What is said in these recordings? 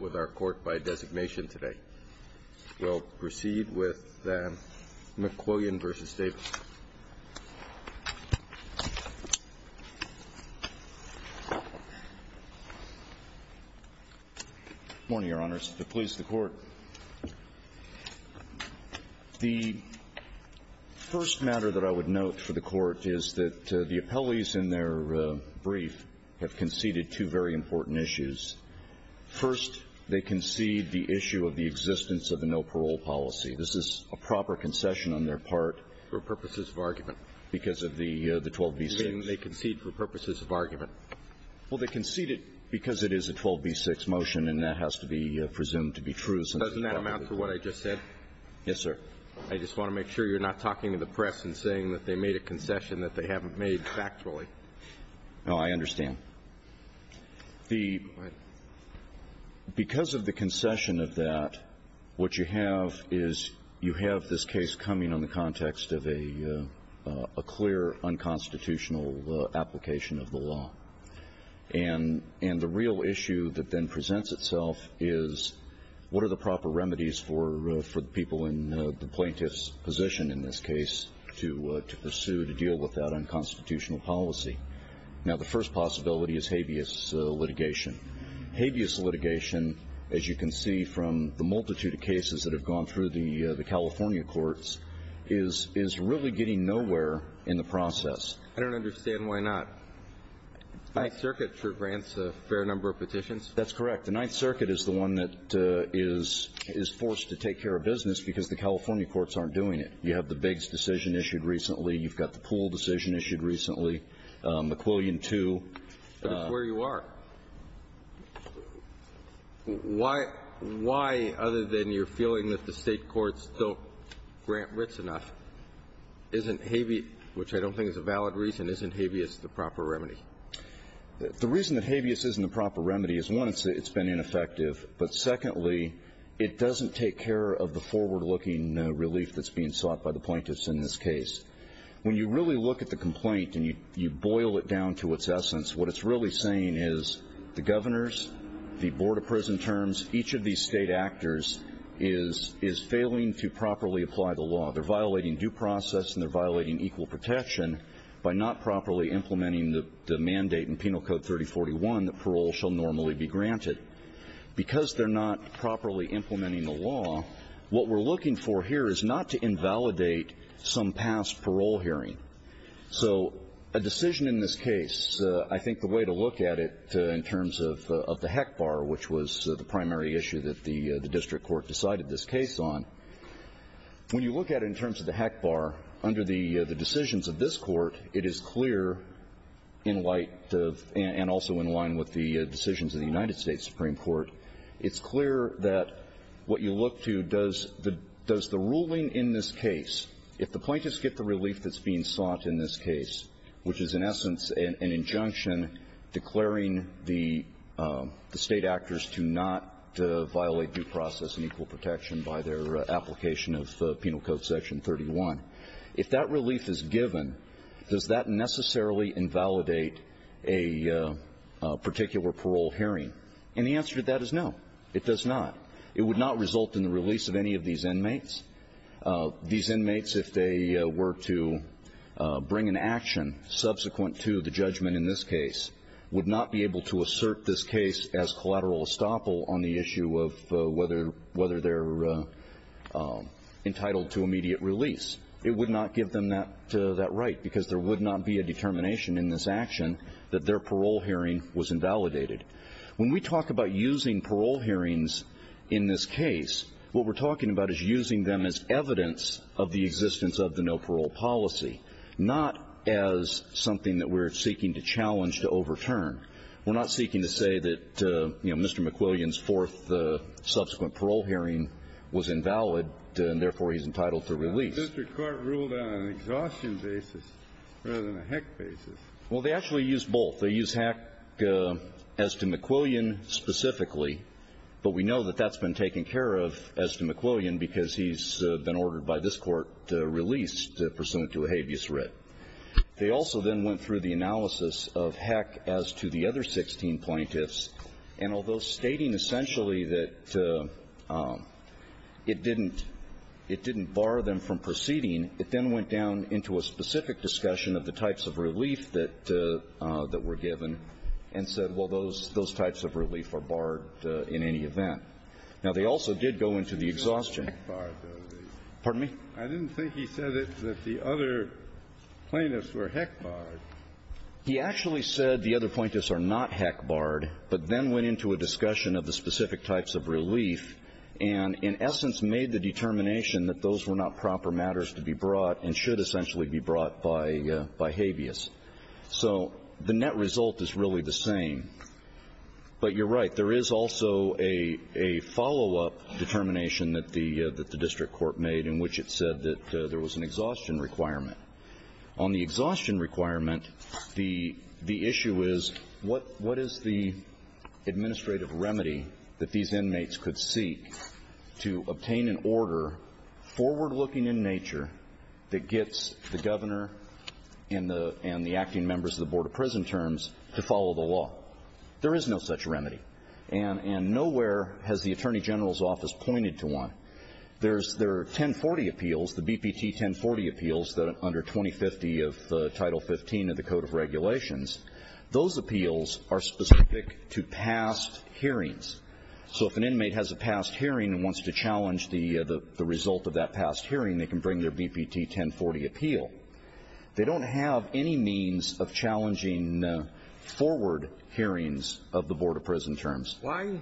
Morning, Your Honors. The police, the court. The first matter that I would note for the court is that the appellees in their brief have conceded two very important issues. First, they concede the issue of the existence of a no-parole policy. This is a proper concession on their part. For purposes of argument. Because of the 12b-6. They concede for purposes of argument. Well, they conceded because it is a 12b-6 motion, and that has to be presumed to be true. Doesn't that amount to what I just said? Yes, sir. I just want to make sure you're not talking to the press and saying that they made a concession that they haven't made factually. No, I understand. Because of the concession of that, what you have is you have this case coming on the context of a clear unconstitutional application of the law. And the real issue that then presents itself is what are the proper remedies for the people in the plaintiff's position in this case to pursue to deal with that unconstitutional policy? Now, the first possibility is habeas litigation. Habeas litigation, as you can see from the multitude of cases that have gone through the California courts, is really getting nowhere in the process. I don't understand why not. Ninth Circuit grants a fair number of petitions. That's correct. The Ninth Circuit is the one that is forced to take care of business because the California courts aren't doing it. You have the Biggs decision issued recently. You've got the Poole decision issued recently. McQuillian, too. But it's where you are. Why, other than your feeling that the State courts don't grant writs enough, isn't habeas, which I don't think is a valid reason, isn't habeas the proper remedy? The reason that habeas isn't the proper remedy is, one, it's been ineffective. But secondly, it doesn't take care of the forward-looking relief that's being sought by the plaintiffs in this case. When you really look at the complaint and you boil it down to its essence, what it's really saying is the governors, the Board of Prison Terms, each of these state actors is failing to properly apply the law. They're violating due process and they're violating equal protection by not properly implementing the mandate in Penal Code 3041 that parole shall normally be granted. Because they're not properly implementing the law, what we're looking for here is not to invalidate some past parole hearing. So a decision in this case, I think the way to look at it in terms of the HEC bar, which was the primary issue that the district court decided this case on, when you look at it in terms of the HEC bar, under the decisions of this court, it is clear in light of and also in line with the decisions of the United States Supreme Court, it's clear that what you look to does the ruling in this case, if the plaintiffs get the relief that's being sought in this case, which is in essence an injunction declaring the state actors to not violate due process and equal protection by their application of Penal Code Section 31. If that relief is given, does that necessarily invalidate a particular parole hearing? And the answer to that is no, it does not. It would not result in the release of any of these inmates. These inmates, if they were to bring an action subsequent to the judgment in this case, would not be able to assert this case as collateral estoppel on the issue of whether they're entitled to immediate release. It would not give them that right, because there would not be a determination in this action that their parole hearing was invalidated. When we talk about using parole hearings in this case, what we're talking about is using them as evidence of the existence of the no parole policy, not as something that we're seeking to challenge to overturn. We're not seeking to say that, you know, Mr. McQuillian's fourth subsequent parole hearing was invalid, and therefore he's entitled to release. The district court ruled on an exhaustion basis rather than a heck basis. Well, they actually used both. They used heck as to McQuillian specifically, but we know that that's been taken care of as to McQuillian, because he's been ordered by this court to release pursuant to a habeas writ. They also then went through the analysis of heck as to the other 16 plaintiffs, and although stating essentially that it didn't bar them from proceeding, it then went down into a specific discussion of the types of relief that were given and said, well, those types of relief are barred in any event. Now, they also did go into the exhaustion. I didn't think he said it, that the other plaintiffs were heck barred. He actually said the other plaintiffs are not heck barred, but then went into a discussion of the specific types of relief and, in essence, made the determination that those were not proper matters to be brought and should essentially be brought by habeas. So the net result is really the same. But you're right, there is also a follow-up determination that the district court made in which it said that there was an exhaustion requirement. On the exhaustion requirement, the issue is, what is the administrative remedy that these inmates could seek to obtain an order, forward-looking in nature, that gets the governor and the acting members of the Board of Prison Terms to follow the law? There is no such remedy. And nowhere has the Attorney General's office pointed to one. There's their 1040 appeals, the BPT 1040 appeals under 2050 of Title 15 of the Code of Regulations, those appeals are specific to past hearings. So if an inmate has a past hearing and wants to challenge the result of that past hearing, they can bring their BPT 1040 appeal. They don't have any means of challenging forward hearings of the Board of Prison Terms. Why,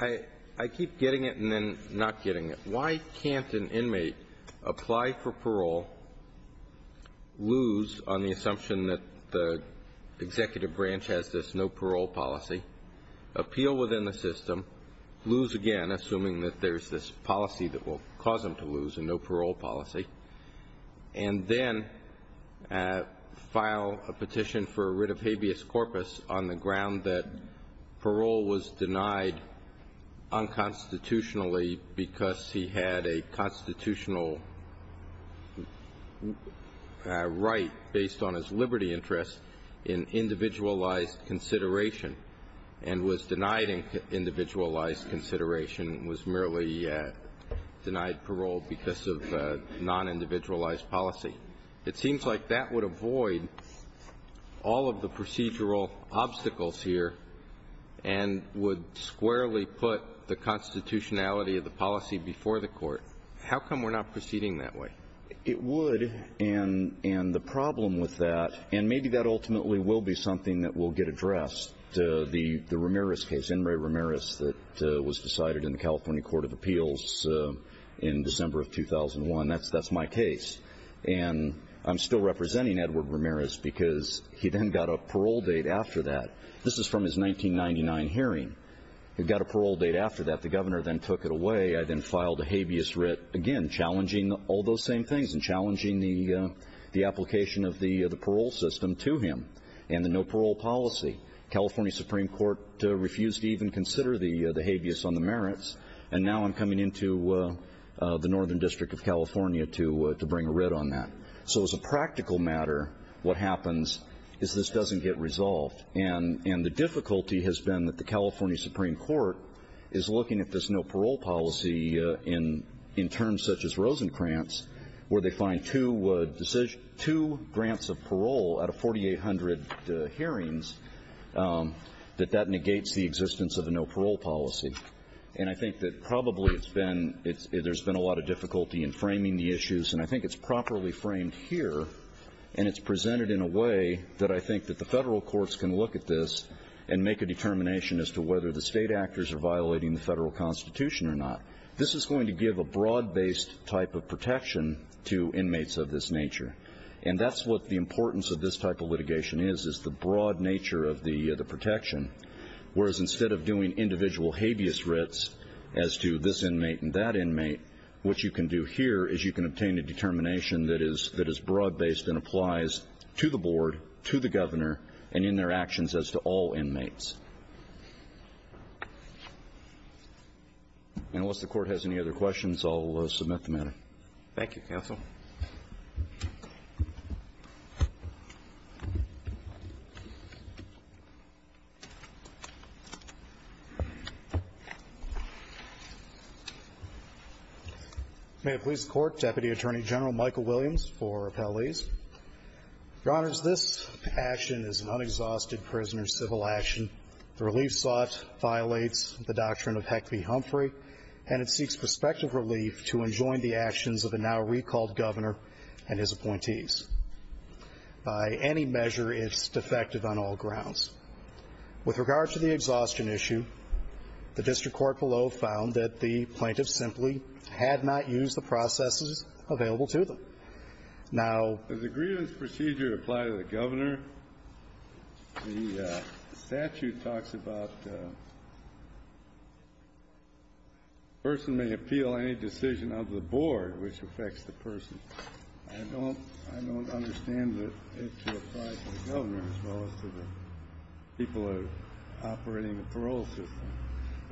I keep getting it and then not getting it. Why can't an inmate apply for parole, lose on the assumption that the executive branch has this no parole policy, appeal within the system, lose again, assuming that there's this policy that will cause him to lose, a no parole policy. And then file a petition for a writ of habeas corpus on the ground that parole was denied unconstitutionally because he had a constitutional right based on his liberty interest in individualized consideration. And was denied individualized consideration, was merely denied parole because of non-individualized policy. It seems like that would avoid all of the procedural obstacles here and would squarely put the constitutionality of the policy before the court. How come we're not proceeding that way? It would, and the problem with that, and the Ramirez case, Henry Ramirez that was decided in the California Court of Appeals in December of 2001, that's my case. And I'm still representing Edward Ramirez because he then got a parole date after that. This is from his 1999 hearing. He got a parole date after that. The governor then took it away. I then filed a habeas writ, again, challenging all those same things and challenging the application of the parole system to him and the no parole policy. California Supreme Court refused to even consider the habeas on the merits. And now I'm coming into the Northern District of California to bring a writ on that. So as a practical matter, what happens is this doesn't get resolved. And the difficulty has been that the California Supreme Court is looking at this no parole policy in terms such as Rosencrantz, where they find two grants of parole out of 4,800 hearings, that that negates the existence of a no parole policy. And I think that probably it's been, there's been a lot of difficulty in framing the issues, and I think it's properly framed here, and it's presented in a way that I think that the federal courts can look at this and make a determination as to whether the state actors are violating the federal constitution or not. This is going to give a broad based type of protection to inmates of this nature. And that's what the importance of this type of litigation is, is the broad nature of the protection. Whereas instead of doing individual habeas writs as to this inmate and that inmate, what you can do here is you can obtain a determination that is broad based and applies to the board, to the governor, and in their actions as to all inmates. Unless the court has any other questions, I'll submit the matter. Thank you, counsel. May it please the court, Deputy Attorney General Michael Williams for appellees. Your honors, this action is an unexhausted prisoner's civil action. The relief sought violates the doctrine of Heckley-Humphrey, and it seeks prospective relief to enjoin the actions of the now recalled governor and his appointees. By any measure, it's defective on all grounds. With regard to the exhaustion issue, the district court below found that the plaintiff simply had not used the processes available to them. Does the grievance procedure apply to the governor? The statute talks about a person may appeal any decision of the board which affects the person. I don't understand that it should apply to the governor as well as to the people operating the parole system.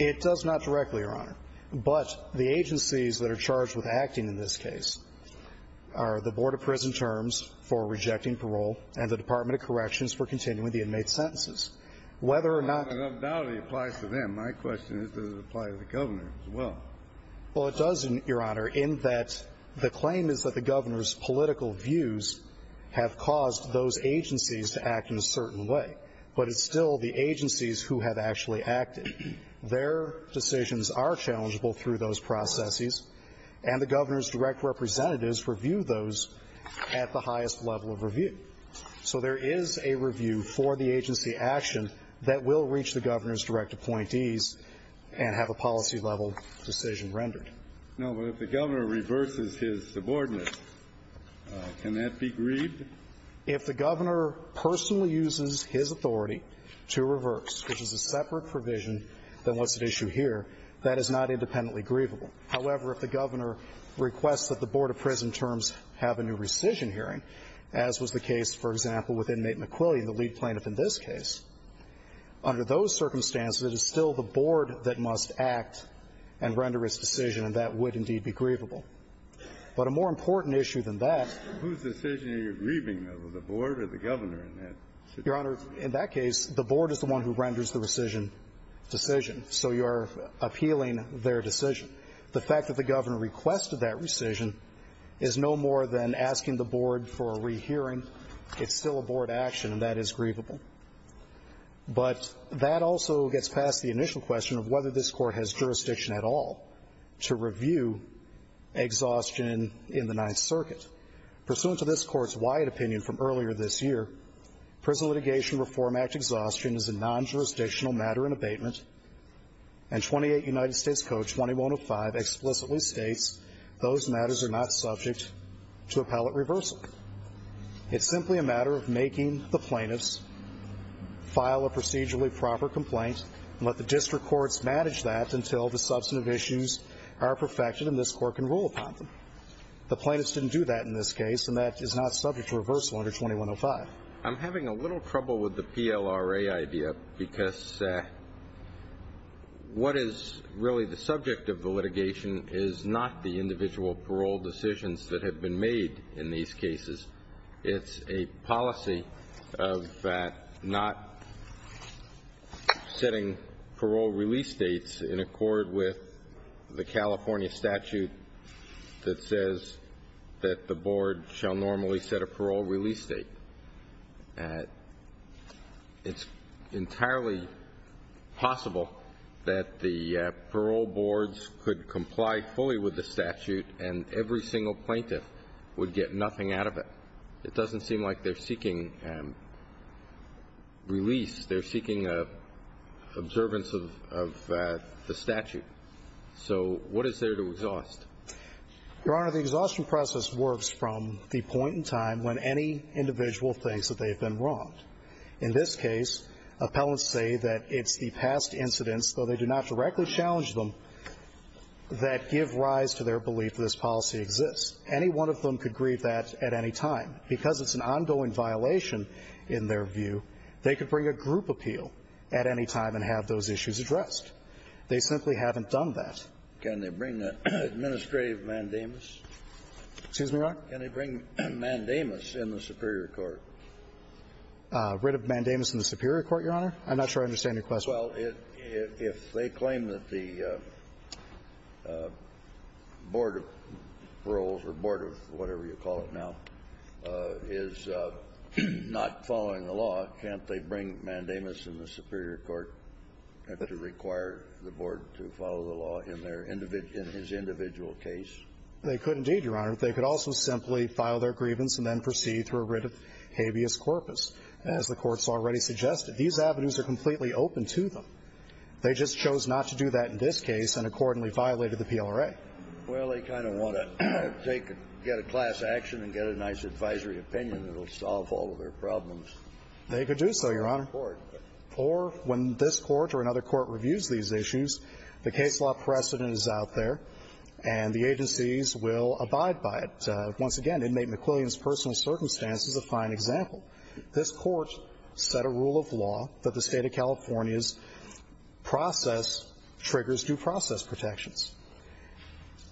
It does not directly, Your Honor. But the agencies that are charged with acting in this case are the Board of Prison Terms for rejecting parole and the Department of Corrections for continuing the inmate sentences. Whether or not the ability applies to them, my question is, does it apply to the governor as well? Well, it does, Your Honor, in that the claim is that the governor's political views have caused those agencies to act in a certain way. But it's still the agencies who have actually acted. Their decisions are challengeable through those processes, and the governor's direct representatives review those at the highest level of review. So there is a review for the agency action that will reach the governor's direct appointees and have a policy-level decision rendered. No, but if the governor reverses his subordinates, can that be grieved? If the governor personally uses his authority to reverse, which is a separate provision than what's at issue here, that is not independently grievable. However, if the governor requests that the Board of Prison Terms have a new rescission hearing, as was the case, for example, with inmate McQuilley, the lead plaintiff in this case, under those circumstances, it is still the board that must act and render its decision, and that would indeed be grievable. But a more important issue than that — So whose decision are you grieving, though, the board or the governor in that situation? Your Honor, in that case, the board is the one who renders the rescission decision, so you are appealing their decision. The fact that the governor requested that rescission is no more than asking the board for a rehearing. It's still a board action, and that is grievable. But that also gets past the initial question of whether this court has jurisdiction at all to review exhaustion in the Ninth Circuit. Pursuant to this court's wide opinion from earlier this year, Prison Litigation Reform Act exhaustion is a non-jurisdictional matter in abatement, and 28 United States Code 2105 explicitly states those matters are not subject to appellate reversal. It's simply a matter of making the plaintiffs file a procedurally proper complaint and let the district courts manage that until the substantive issues are perfected and this court can rule upon them. The plaintiffs didn't do that in this case, and that is not subject to reversal under 2105. I'm having a little trouble with the PLRA idea because what is really the subject of the litigation is not the individual parole decisions that have been made in these cases. It's a policy of not setting parole release dates in accord with the California statute that says that the board shall normally set a parole release date. It's entirely possible that the parole boards could comply fully with the statute and every single plaintiff would get nothing out of it. It doesn't seem like they're seeking release. They're seeking observance of the statute. So what is there to exhaust? Your Honor, the exhaustion process works from the point in time when any individual thinks that they've been wronged. In this case, appellants say that it's the past incidents, though they do not directly challenge them, that give rise to their belief that this policy exists. Any one of them could grieve that at any time. Because it's an ongoing violation in their view, they could bring a group appeal at any time and have those issues addressed. They simply haven't done that. Can they bring an administrative mandamus? Excuse me, Your Honor? Can they bring a mandamus in the superior court? Rid of mandamus in the superior court, Your Honor? I'm not sure I understand your question. Well, if they claim that the board of paroles or board of whatever you call it now is not following the law, can't they bring mandamus in the superior court to require the board to follow the law in his individual case? They could indeed, Your Honor. They could also simply file their grievance and then proceed through a writ of habeas corpus. As the Court's already suggested, these avenues are completely open to them. They just chose not to do that in this case and accordingly violated the PLRA. Well, they kind of want to get a class action and get a nice advisory opinion that will solve all of their problems. They could do so, Your Honor. Or when this Court or another Court reviews these issues, the case law precedent is out there and the agencies will abide by it. Once again, inmate McQuillian's personal circumstance is a fine example. This Court set a rule of law that the State of California's process triggers due process protections.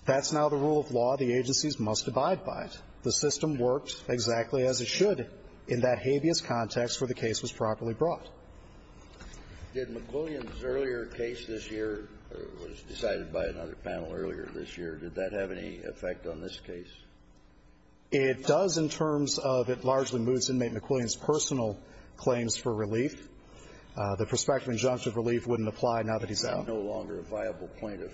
That's now the rule of law. The agencies must abide by it. The system works exactly as it should in that habeas context where the case was properly brought. Did McQuillian's earlier case this year, or it was decided by another panel earlier this year, did that have any effect on this case? It does in terms of it largely moves inmate McQuillian's personal claims for relief. The prospect of injunctive relief wouldn't apply now that he's out. He's no longer a viable plaintiff.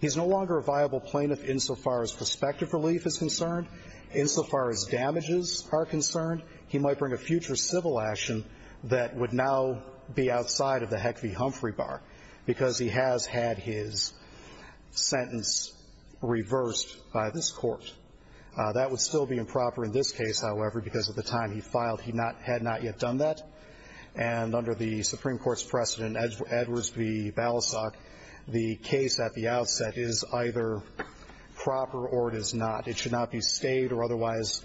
He's no longer a viable plaintiff insofar as prospective relief is concerned, insofar as damages are concerned. He might bring a future civil action that would now be outside of the Heck v. Humphrey Bar because he has had his sentence reversed by this Court. That would still be improper in this case, however, because at the time he filed, he had not yet done that. And under the Supreme Court's precedent, Edwards v. Balasag, the case at the outset is either proper or it is not. It should not be stayed or otherwise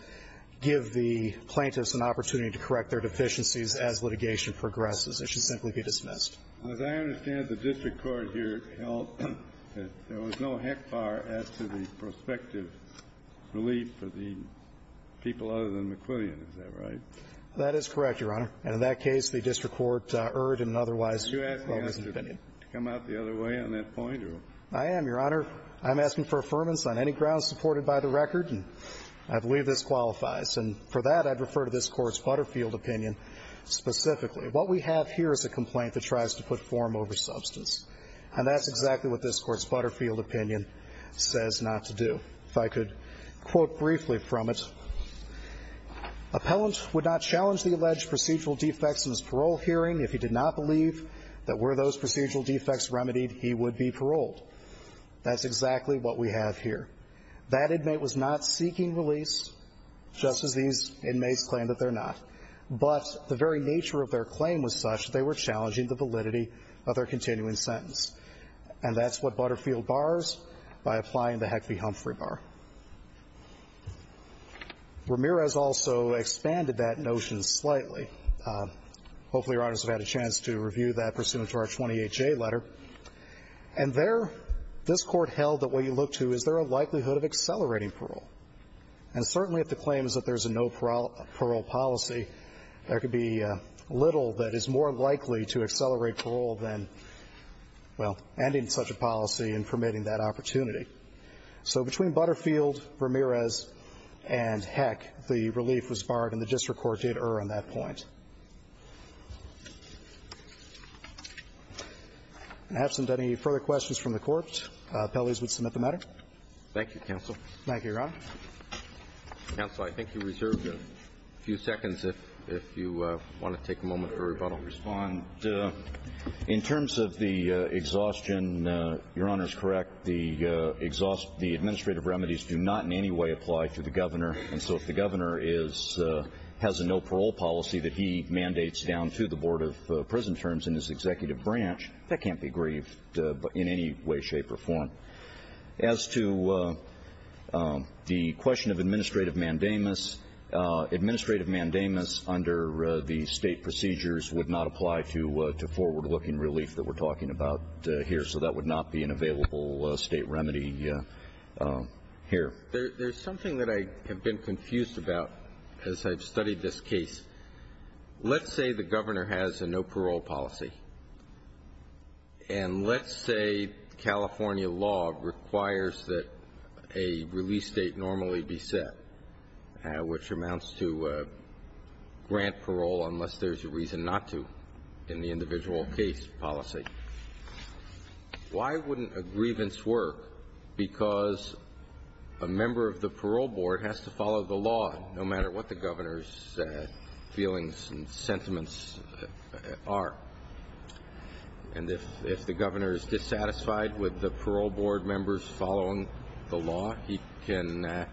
give the plaintiffs an opportunity to correct their deficiencies as litigation progresses. It should simply be dismissed. As I understand it, the district court here held that there was no HECFAR as to the prospective relief for the people other than McQuillian. Is that right? That is correct, Your Honor. And in that case, the district court erred in an otherwise well-missed opinion. Are you asking us to come out the other way on that point? I am, Your Honor. I'm asking for affirmance on any grounds supported by the record, and I believe this qualifies. And for that, I'd refer to this Court's Butterfield opinion specifically. What we have here is a complaint that tries to put form over substance, and that's exactly what this Court's Butterfield opinion says not to do. If I could quote briefly from it. Appellant would not challenge the alleged procedural defects in his parole hearing if he did not believe that were those procedural defects remedied, he would be paroled. That's exactly what we have here. That inmate was not seeking release, just as these inmates claim that they're not. But the very nature of their claim was such that they were challenging the validity of their continuing sentence. And that's what Butterfield bars by applying the Heckley-Humphrey bar. Ramirez also expanded that notion slightly. Hopefully, Your Honors have had a chance to review that pursuant to our 28J letter. And there, this Court held that what you look to is there a likelihood of accelerating parole. And certainly if the claim is that there's a no parole policy, there could be little that is more likely to accelerate parole than, well, ending such a policy and permitting that opportunity. So between Butterfield, Ramirez, and Heckley, the relief was barred and the district court did err on that point. Absent any further questions from the Court, appellees would submit the matter. Thank you, counsel. Thank you, Your Honor. Counsel, I think you reserved a few seconds if you want to take a moment for rebuttal. I'll respond. In terms of the exhaustion, Your Honor is correct. The administrative remedies do not in any way apply to the governor. And so if the governor has a no parole policy that he mandates down to the Board of Prison Terms in his executive branch, that can't be grieved in any way, shape, or form. As to the question of administrative mandamus, administrative mandamus under the state procedures would not apply to forward looking relief that we're talking about here. So that would not be an available state remedy here. There's something that I have been confused about as I've studied this case. Let's say the governor has a no parole policy. And let's say California law requires that a release date normally be set, which amounts to grant parole unless there's a reason not to in the individual case policy. Why wouldn't a grievance work because a member of the parole board has to follow the governor's feelings and sentiments are? And if the governor is dissatisfied with the parole board members following the law, he can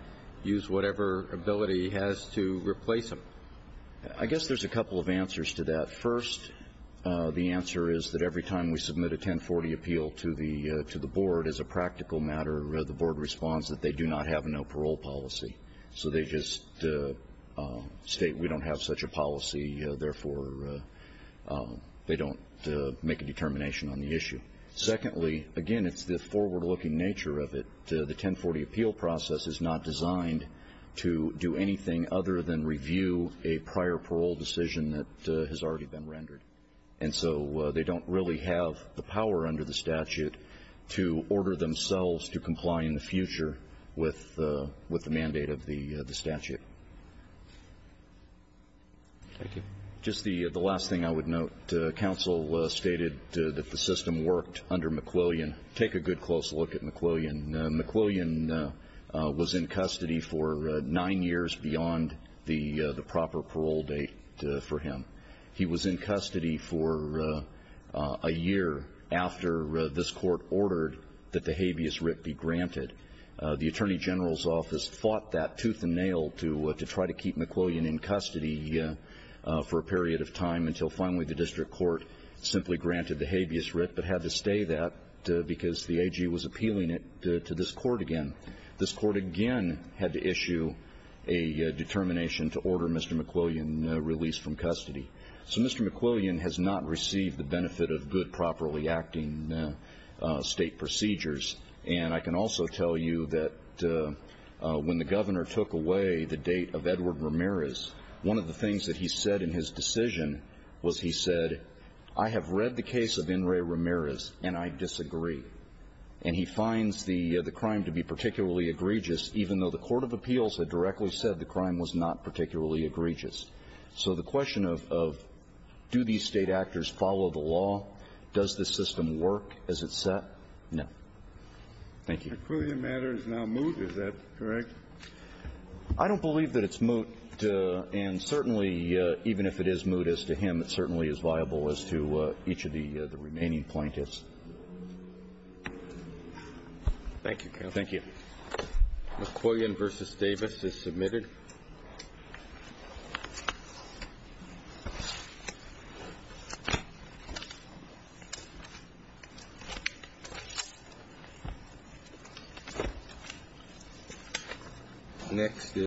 use whatever ability he has to replace him. I guess there's a couple of answers to that. First, the answer is that every time we submit a 1040 appeal to the board as a practical matter, the board responds that they do not have a no parole policy. So they just state we don't have such a policy. Therefore, they don't make a determination on the issue. Secondly, again, it's the forward looking nature of it. The 1040 appeal process is not designed to do anything other than review a prior parole decision that has already been rendered. And so they don't really have the power under the statute to order themselves to comply in the future with the mandate of the statute. Thank you. Just the last thing I would note. Counsel stated that the system worked under McWillian. Take a good close look at McWillian. McWillian was in custody for nine years beyond the proper parole date for him. He was in custody for a year after this Court ordered that the habeas writ be granted. The Attorney General's office fought that tooth and nail to try to keep McWillian in custody for a period of time until finally the district court simply granted the habeas writ but had to stay that because the AG was appealing it to this Court again. This Court again had to issue a determination to order Mr. McWillian released from custody. So Mr. McWillian has not received the benefit of good properly acting state procedures. And I can also tell you that when the Governor took away the date of Edward Ramirez, one of the things that he said in his decision was he said, I have read the case of In re Ramirez and I disagree. And he finds the crime to be particularly egregious even though the court of appeals had directly said the crime was not particularly egregious. So the question of do these State actors follow the law? Does this system work as it's set? No. Thank you. McWillian matters now moot. Is that correct? I don't believe that it's moot. And certainly even if it is moot as to him, it certainly is viable as to each of the remaining plaintiffs. Thank you, counsel. Thank you. McWillian v. Davis is submitted. Thank you.